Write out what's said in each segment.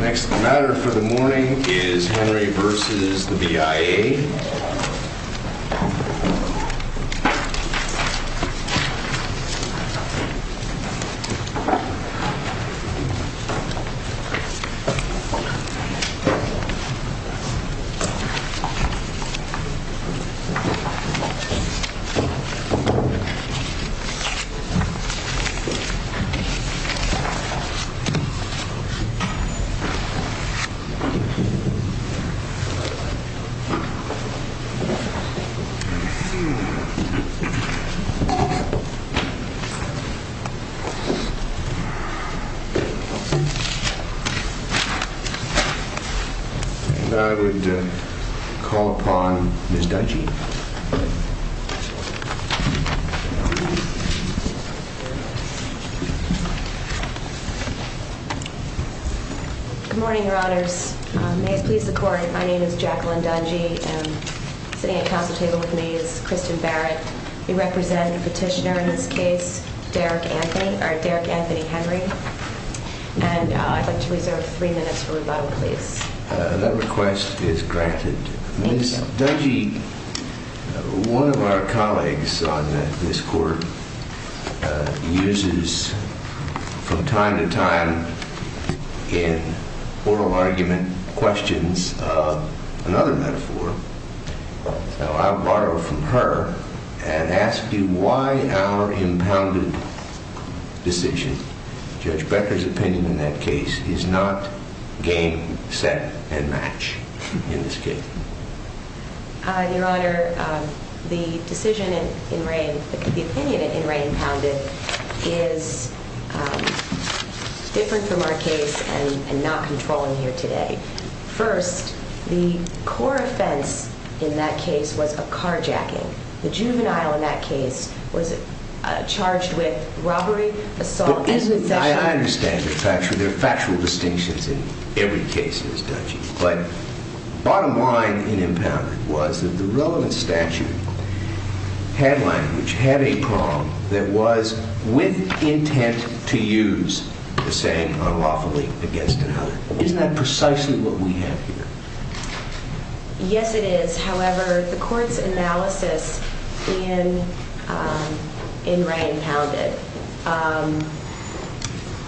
Next matter for the morning is Henry v. BIA I would call upon Ms. Deitchie. Good morning, your honors. May it please the court, my name is Jacqueline Dungey. Sitting at the council table with me is Kristen Barrett. We represent the petitioner in this case, Derek Anthony Henry. And I'd like to reserve three minutes for rebuttal, please. That request is granted. Ms. Dungey, one of our colleagues on this court, uses from time to time in oral argument questions another metaphor. So I'll borrow from her and ask you why our impounded decision, Judge Becker's opinion in that case, is not game, set, and match in this case. Your honor, the decision in Reign, the opinion in Reign impounded, is different from our case and not controlling here today. First, the core offense in that case was a carjacking. The juvenile in that case was charged with robbery, assault, and possession. I understand the fact that there are factual distinctions in every case, Ms. Dungey. But bottom line in impounded was that the relevant statute had language, had a prong that was with intent to use the same unlawfully against another. Isn't that precisely what we have here? Yes, it is. However, the court's analysis in Reign impounded,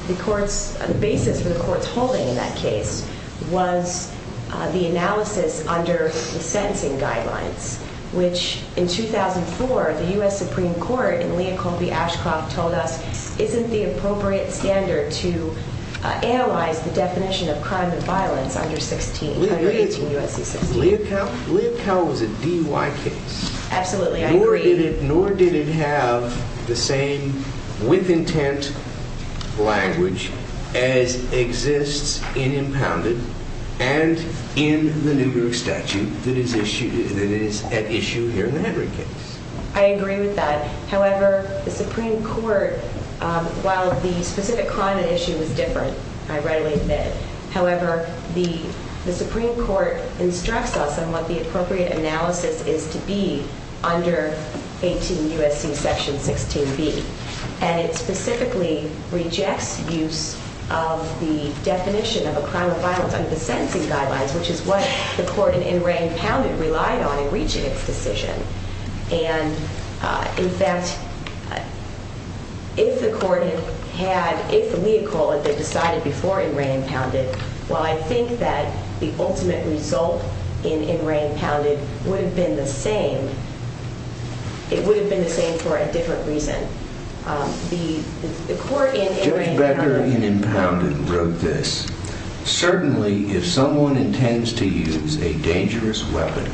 the basis for the court's holding in that case, was the analysis under the sentencing guidelines, which in 2004, the U.S. Supreme Court in Leah Colby Ashcroft told us isn't the appropriate standard to analyze the definition of crime and violence under 16. Leah Colby was a DUI case. Absolutely, I agree. Nor did it have the same with intent language as exists in impounded and in the New York statute that is at issue here in the Henry case. I agree with that. However, the Supreme Court, while the specific crime issue was different, I readily admit, however, the Supreme Court instructs us on what the appropriate analysis is to be under 18 U.S.C. section 16B. And it specifically rejects use of the definition of a crime of violence under the sentencing guidelines, which is what the court in Reign impounded relied on in reaching its decision. And, in fact, if the court had had, if Leah Colby had decided before in Reign impounded, while I think that the ultimate result in Reign impounded would have been the same, it would have been the same for a different reason. The court in Reign impounded. Judge Becker in impounded wrote this, Certainly, if someone intends to use a dangerous weapon,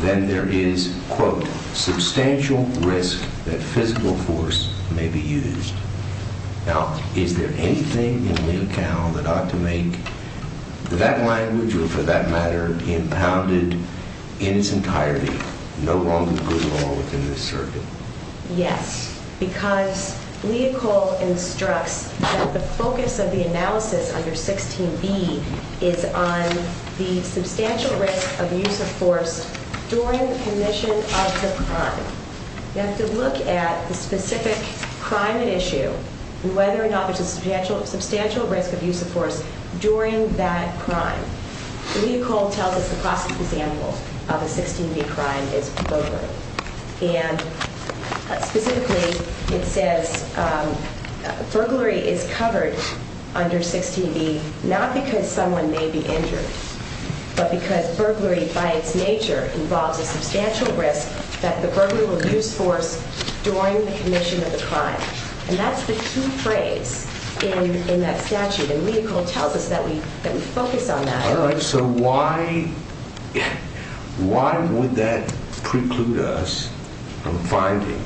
then there is, quote, substantial risk that physical force may be used. Now, is there anything in Lee et al. that ought to make that language, or for that matter, impounded in its entirety, no longer good law within this circuit? Yes. Because Lee et al. instructs that the focus of the analysis under 16B is on the substantial risk of use of force during the commission of the crime. You have to look at the specific crime at issue and whether or not there's a substantial risk of use of force during that crime. Lee et al. tells us the classic example of a 16B crime is poker. And specifically, it says burglary is covered under 16B, not because someone may be injured, but because burglary by its nature involves a substantial risk that the burglar will use force during the commission of the crime. And that's the two phrase in that statute, and Lee et al. tells us that we focus on that. All right, so why would that preclude us from finding,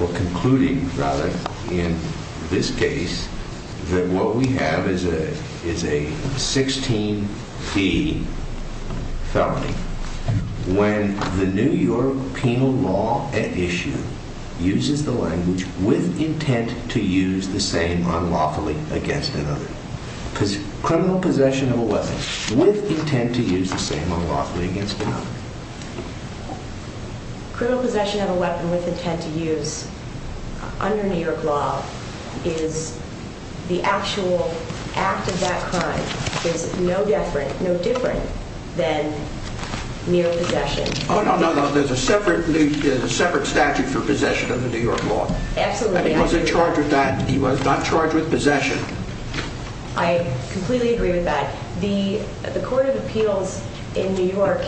or concluding, rather, in this case, that what we have is a 16B felony when the New York penal law at issue uses the language with intent to use the same unlawfully against another? Because criminal possession of a weapon with intent to use the same unlawfully against another. Criminal possession of a weapon with intent to use under New York law is the actual act of that crime is no different than mere possession. Oh, no, no, there's a separate statute for possession under New York law. Absolutely. He wasn't charged with that. He was not charged with possession. I completely agree with that. The Court of Appeals in New York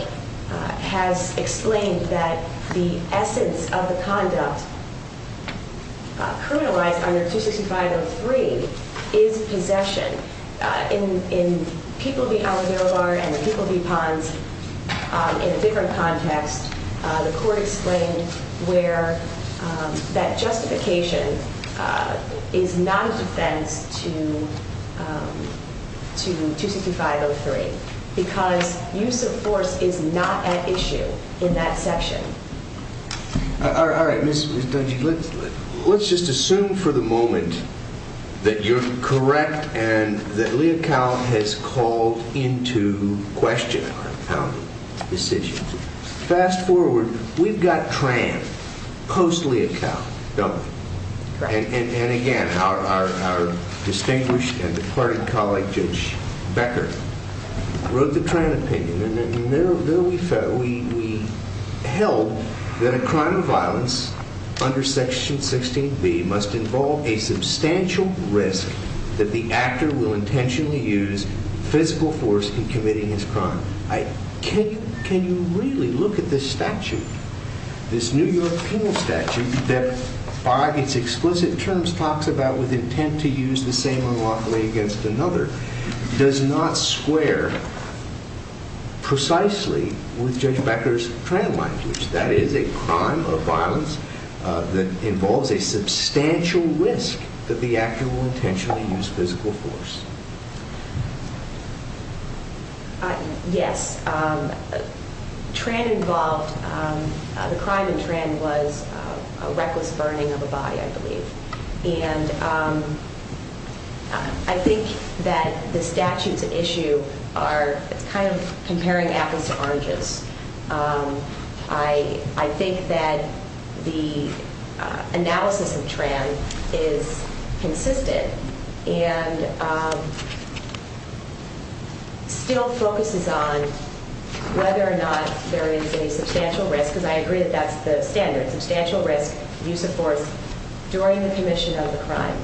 has explained that the essence of the conduct criminalized under 265.03 is possession. In People v. Alavero Bar and the People v. Pons, in a different context, the Court explained where that justification is not a defense to 265.03 because use of force is not at issue in that section. All right, Ms. Dungey, let's just assume for the moment that you're correct and that Lea Cal has called into question our founding decision. Fast forward, we've got Tran, post-Lea Cal, Dungey. And again, our distinguished and departed colleague, Judge Becker, wrote the Tran opinion, and there we held that a crime of violence under Section 16b must involve a substantial risk that the actor will intentionally use physical force in committing his crime. Can you really look at this statute? This New York penal statute that by its explicit terms talks about with intent to use the same unlawfully against another does not square precisely with Judge Becker's Tran language. That is, a crime of violence that involves a substantial risk that the actor will intentionally use physical force. Yes. Tran involved, the crime in Tran was a reckless burning of a body, I believe. And I think that the statutes at issue are kind of comparing apples to oranges. I think that the analysis of Tran is consistent and still focuses on whether or not there is a substantial risk, because I agree that that's the standard, substantial risk, use of force, during the commission of the crime.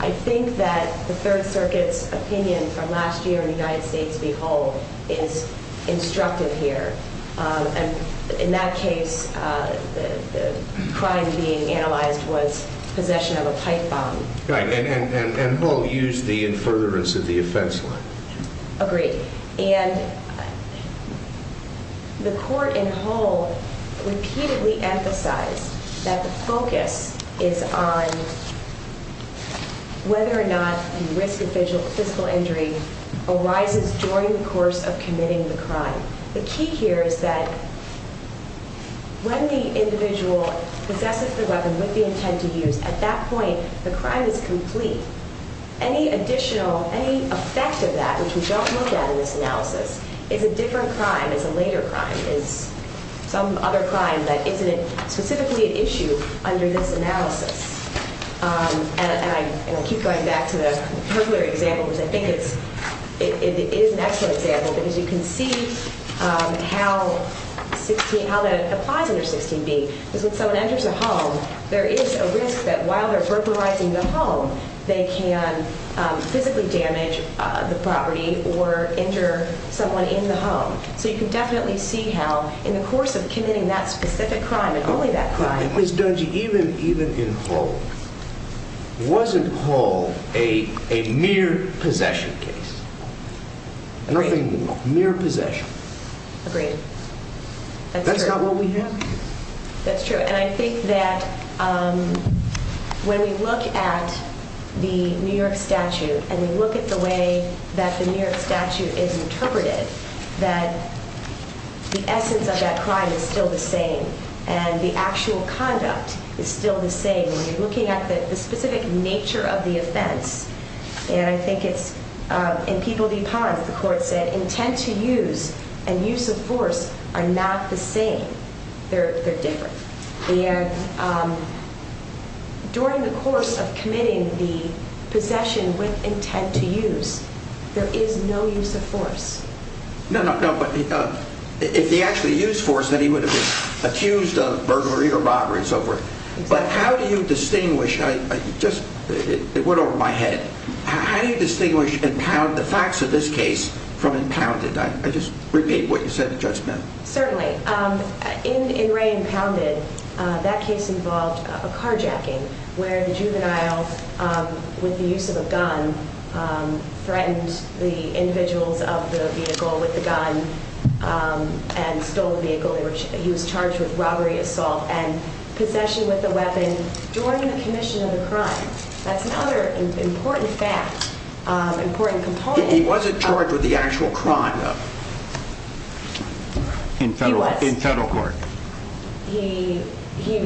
I think that the Third Circuit's opinion from last year in the United States, behold, is instructive here. In that case, the crime being analyzed was possession of a pipe bomb. Right, and Hull used the in furtherance of the offense line. Agreed. And the court in Hull repeatedly emphasized that the focus is on whether or not the risk of physical injury arises during the course of committing the crime. The key here is that when the individual possesses the weapon with the intent to use, at that point the crime is complete. Any additional, any effect of that, which we don't look at in this analysis, is a different crime, is a later crime, is some other crime that isn't specifically at issue under this analysis. And I'll keep going back to the particular example, because I think it is an excellent example, because you can see how that applies under 16b, because when someone enters a home, there is a risk that while they're burglarizing the home, they can physically damage the property or injure someone in the home. So you can definitely see how in the course of committing that specific crime and only that crime was done. Ms. Dungey, even in Hull, wasn't Hull a mere possession case? Nothing more. Mere possession. Agreed. That's not what we have here. That's true. And I think that when we look at the New York statute and we look at the way that the New York statute is interpreted, that the essence of that crime is still the same and the actual conduct is still the same. When you're looking at the specific nature of the offense, and I think it's in People v. Pons, the court said, the intent to use and use of force are not the same. They're different. And during the course of committing the possession with intent to use, there is no use of force. No, no, but if he actually used force, then he would have been accused of burglary or robbery and so forth. But how do you distinguish? It went over my head. How do you distinguish the facts of this case from Impounded? I just repeat what you said to Judge Smith. Certainly. In Ray Impounded, that case involved a carjacking where the juvenile, with the use of a gun, threatened the individuals of the vehicle with the gun and stole the vehicle. He was charged with robbery, assault, and possession with a weapon during the commission of the crime. That's another important fact, important component. He wasn't charged with the actual crime, though. He was. In federal court. He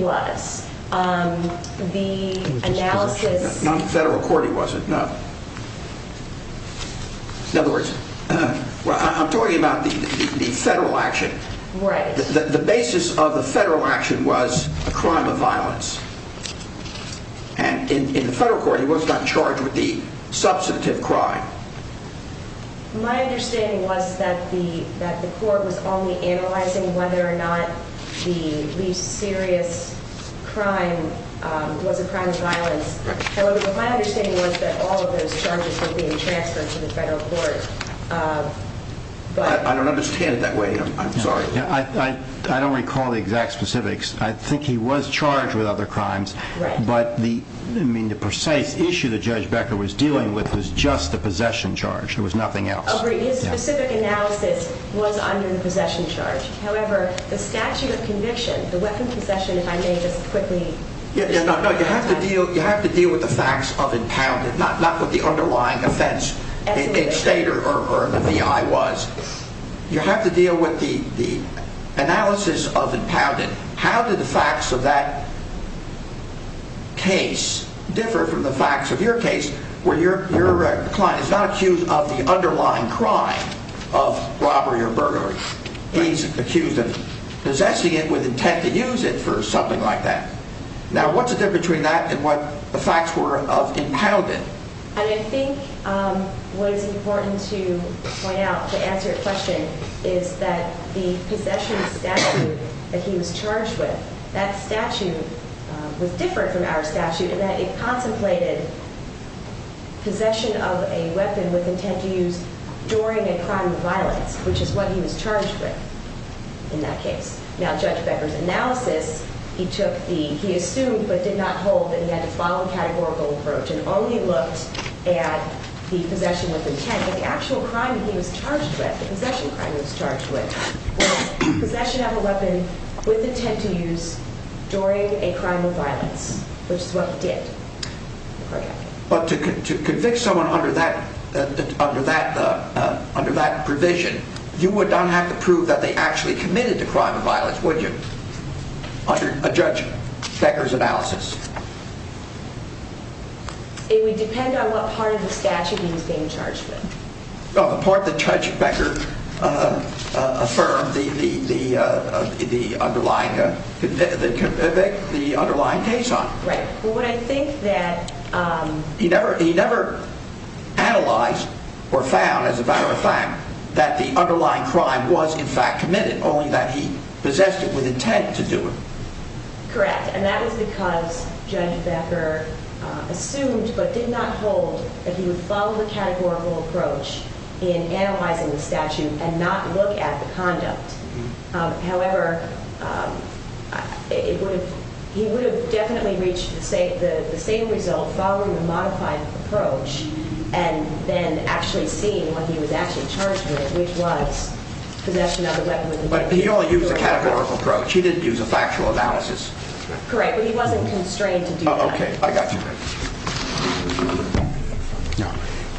was. The analysis. Not in federal court he wasn't, no. In other words, I'm talking about the federal action. Right. The basis of the federal action was a crime of violence. In federal court, he was not charged with the substantive crime. My understanding was that the court was only analyzing whether or not the least serious crime was a crime of violence. My understanding was that all of those charges were being transferred to the federal court. I don't understand it that way. I'm sorry. I don't recall the exact specifics. I think he was charged with other crimes. Right. But the precise issue that Judge Becker was dealing with was just the possession charge. There was nothing else. Agreed. His specific analysis was under the possession charge. However, the statute of conviction, the weapon possession, if I may just quickly. No, you have to deal with the facts of impounded, not what the underlying offense in state or in the V.I. was. You have to deal with the analysis of impounded. How did the facts of that case differ from the facts of your case where your client is not accused of the underlying crime of robbery or burglary? He's accused of possessing it with intent to use it for something like that. Now, what's the difference between that and what the facts were of impounded? And I think what is important to point out to answer your question is that the possession statute that he was charged with, that statute was different from our statute in that it contemplated possession of a weapon with intent to use during a crime of violence, which is what he was charged with in that case. Now, Judge Becker's analysis, he assumed but did not hold that he had to follow a categorical approach and only looked at the possession with intent. But the actual crime he was charged with, the possession crime he was charged with, was possession of a weapon with intent to use during a crime of violence, which is what he did. But to convict someone under that provision, you would not have to prove that they actually committed a crime of violence, would you, under Judge Becker's analysis? It would depend on what part of the statute he was being charged with. The part that Judge Becker affirmed the underlying case on. Right. But what I think that... He never analyzed or found, as a matter of fact, that the underlying crime was in fact committed, only that he possessed it with intent to do it. Correct. And that was because Judge Becker assumed but did not hold that he would follow the categorical approach in analyzing the statute and not look at the conduct. However, he would have definitely reached the same result following the modified approach and then actually seeing what he was actually charged with, which was possession of a weapon with intent. But he only used a categorical approach. He didn't use a factual analysis. Correct. But he wasn't constrained to do that. Okay. I got you.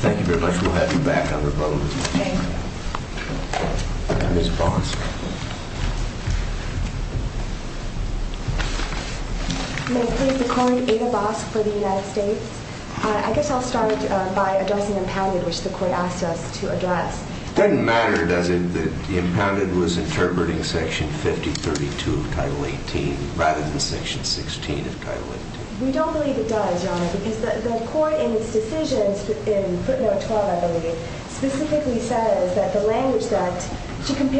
Thank you very much. We'll have you back on the phone. Thank you. Ms. Bosk. May I please be called Ada Bosk for the United States? I guess I'll start by addressing Impounded, which the Court asked us to address. It doesn't matter, does it, that Impounded was interpreting Section 5032 of Title 18 rather than Section 16 of Title 18? We don't believe it does, Your Honor, because the Court in its decisions in footnote 12, I believe, specifically says that the language that... And the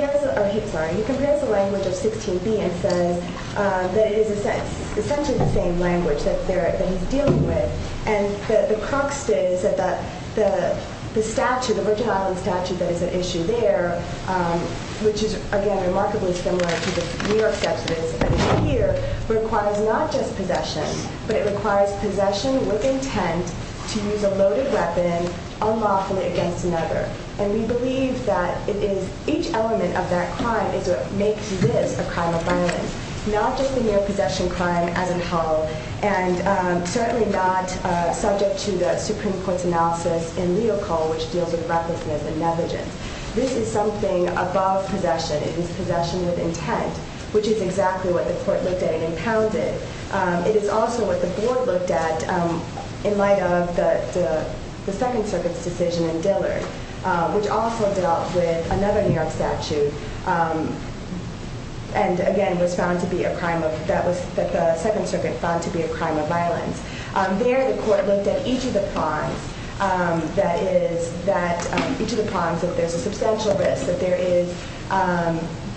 crux is that the statute, the Virgin Islands statute that is at issue there, which is, again, remarkably similar to the New York statute that is here, requires not just possession, but it requires possession with intent to use a loaded weapon unlawfully against another. And we believe that it is each element of that crime is what makes this a crime of violence, not just the mere possession crime as in Hull, and certainly not subject to the Supreme Court's analysis in Leo Cole, which deals with recklessness and negligence. This is something above possession. It is possession with intent, which is exactly what the Court looked at in Impounded. It is also what the Board looked at in light of the Second Circuit's decision in Dillard, which also dealt with another New York statute and, again, was found to be a crime of... that the Second Circuit found to be a crime of violence. There, the Court looked at each of the crimes, that is, that each of the crimes that there's a substantial risk, that there is...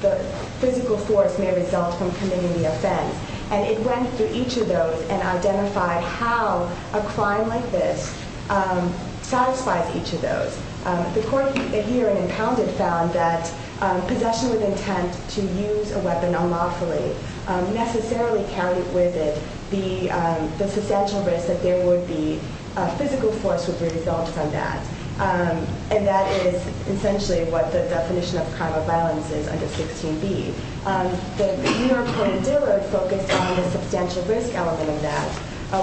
the physical force may result from committing the offense. And it went through each of those and identified how a crime like this satisfies each of those. The Court here in Impounded found that possession with intent to use a weapon unlawfully necessarily carried with it the substantial risk that there would be... a physical force would result from that. And that is essentially what the definition of a crime of violence is under 16b. The New York Court in Dillard focused on the substantial risk element of that,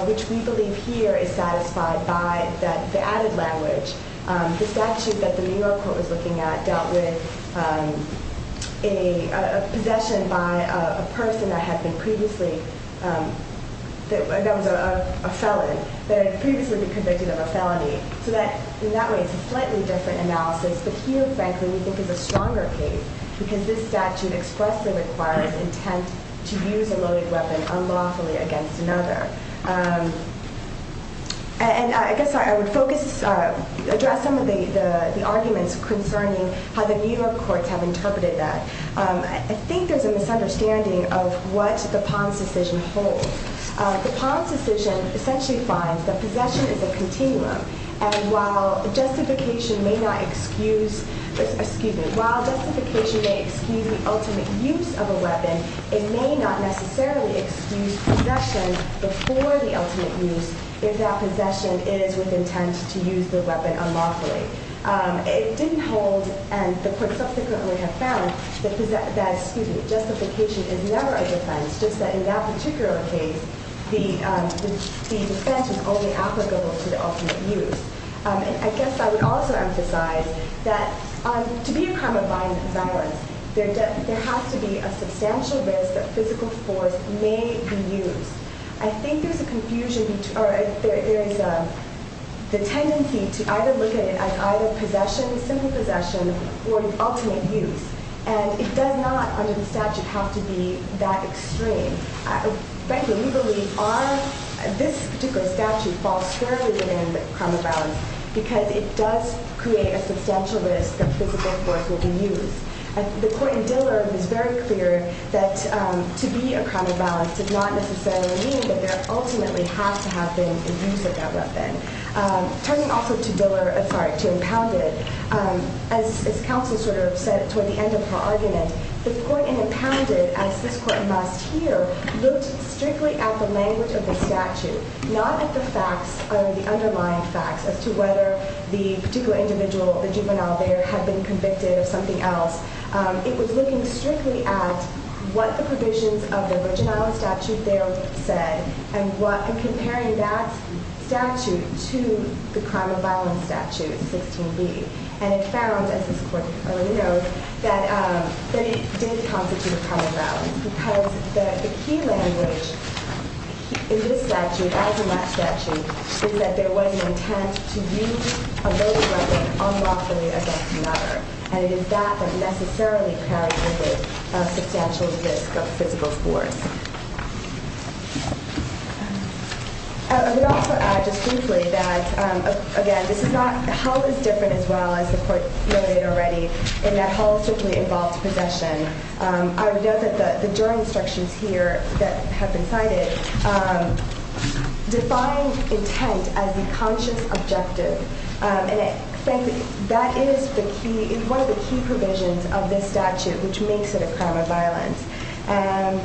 which we believe here is satisfied by the added language. The statute that the New York Court was looking at dealt with a possession by a person that had been previously... that was a felon, that had previously been convicted of a felony. So in that way, it's a slightly different analysis, but here, frankly, we think it's a stronger case because this statute expressly requires intent to use a loaded weapon unlawfully against another. And I guess I would focus... address some of the arguments concerning how the New York Courts have interpreted that. I think there's a misunderstanding of what the Pons decision holds. The Pons decision essentially finds that possession is a continuum, and while justification may not excuse the ultimate use of a weapon, it may not necessarily excuse possession before the ultimate use if that possession is with intent to use the weapon unlawfully. It didn't hold, and the courts subsequently have found, that justification is never a defense, just that in that particular case, the defense was only applicable to the ultimate use. And I guess I would also emphasize that to be a crime of violence, there has to be a substantial risk that physical force may be used. I think there's a confusion... or there is the tendency to either look at it as either possession, simple possession, or an ultimate use. And it does not, under the statute, have to be that extreme. Frankly, we believe our... this particular statute falls squarely within the crime of violence because it does create a substantial risk that physical force will be used. The court in Dillard was very clear that to be a crime of violence does not necessarily mean that there ultimately has to have been a use of that weapon. Turning also to Dillard, sorry, to Impounded, as counsel sort of said toward the end of her argument, the court in Impounded, as this court must here, looked strictly at the language of the statute, not at the facts, the underlying facts as to whether the particular individual, the juvenile there, had been convicted of something else. It was looking strictly at what the provisions of the original statute there said and comparing that statute to the crime of violence statute, 16b. And it found, as this court clearly knows, that it did constitute a crime of violence because the key language in this statute, as in that statute, is that there was an intent to use a loaded weapon unlawfully against another. And it is that that necessarily carries with it a substantial risk of physical force. I would also add, just briefly, that, again, this is not, the whole is different as well, as the court noted already, in that the whole certainly involves possession. I would note that the jury instructions here that have been cited define intent as the conscious objective. And frankly, that is the key, is one of the key provisions of this statute, which makes it a crime of violence. And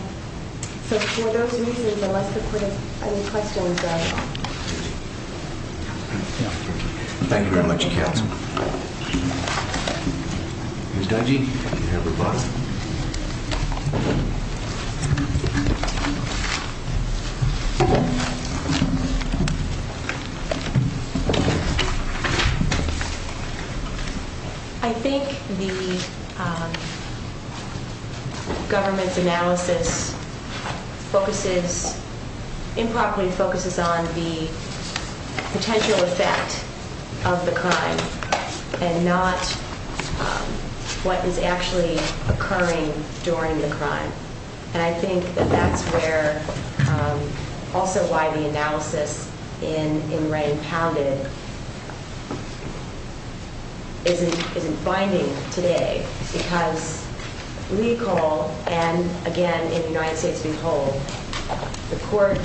so for those reasons, unless the court has any questions, I will. Thank you very much, counsel. Ms. Dungey, you have her bucket. Thank you. I think the government's analysis focuses, improperly focuses on the potential effect of the crime and not what is actually occurring during the crime. And I think that that's where, also why the analysis in Wrang Pounded isn't binding today. Because legal, and again, in United States Behold, the court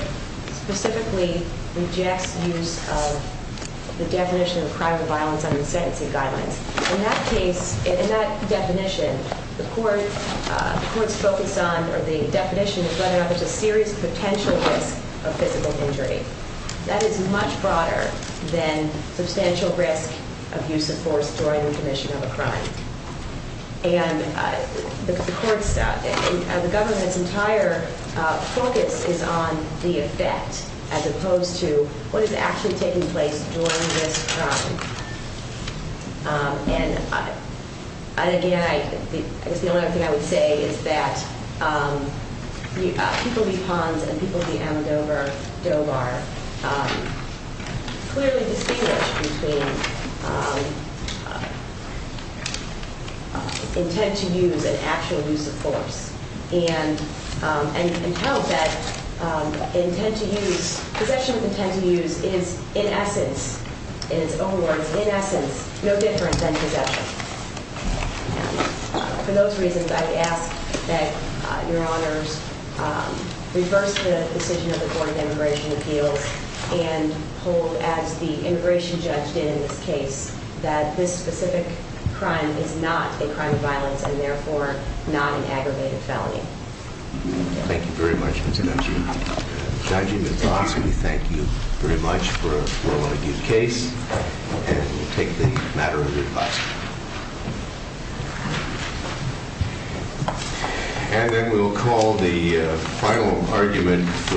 specifically rejects use of the definition of crime of violence under the sentencing guidelines. In that case, in that definition, the court's focus on, or the definition of whether or not there's a serious potential risk of physical injury. That is much broader than substantial risk of use of force during the commission of a crime. And the court's, the government's entire focus is on the effect, as opposed to what is actually taking place during this crime. And again, I guess the only other thing I would say is that people be Pons and people be Amadovar, clearly distinguish between intent to use and actual use of force. And you can tell that intent to use, possession of intent to use is, in essence, in its own words, in essence, no different than possession. For those reasons, I would ask that Your Honors reverse the decision of the Court of Immigration Appeals and hold, as the immigration judge did in this case, that this specific crime is not a crime of violence and, therefore, not an aggravated felony. Thank you very much, Ms. Dungey. Ms. Dungey, Ms. Pons, we thank you very much for a well-argued case, and we'll take the matter of your advice. And then we'll call the final argument.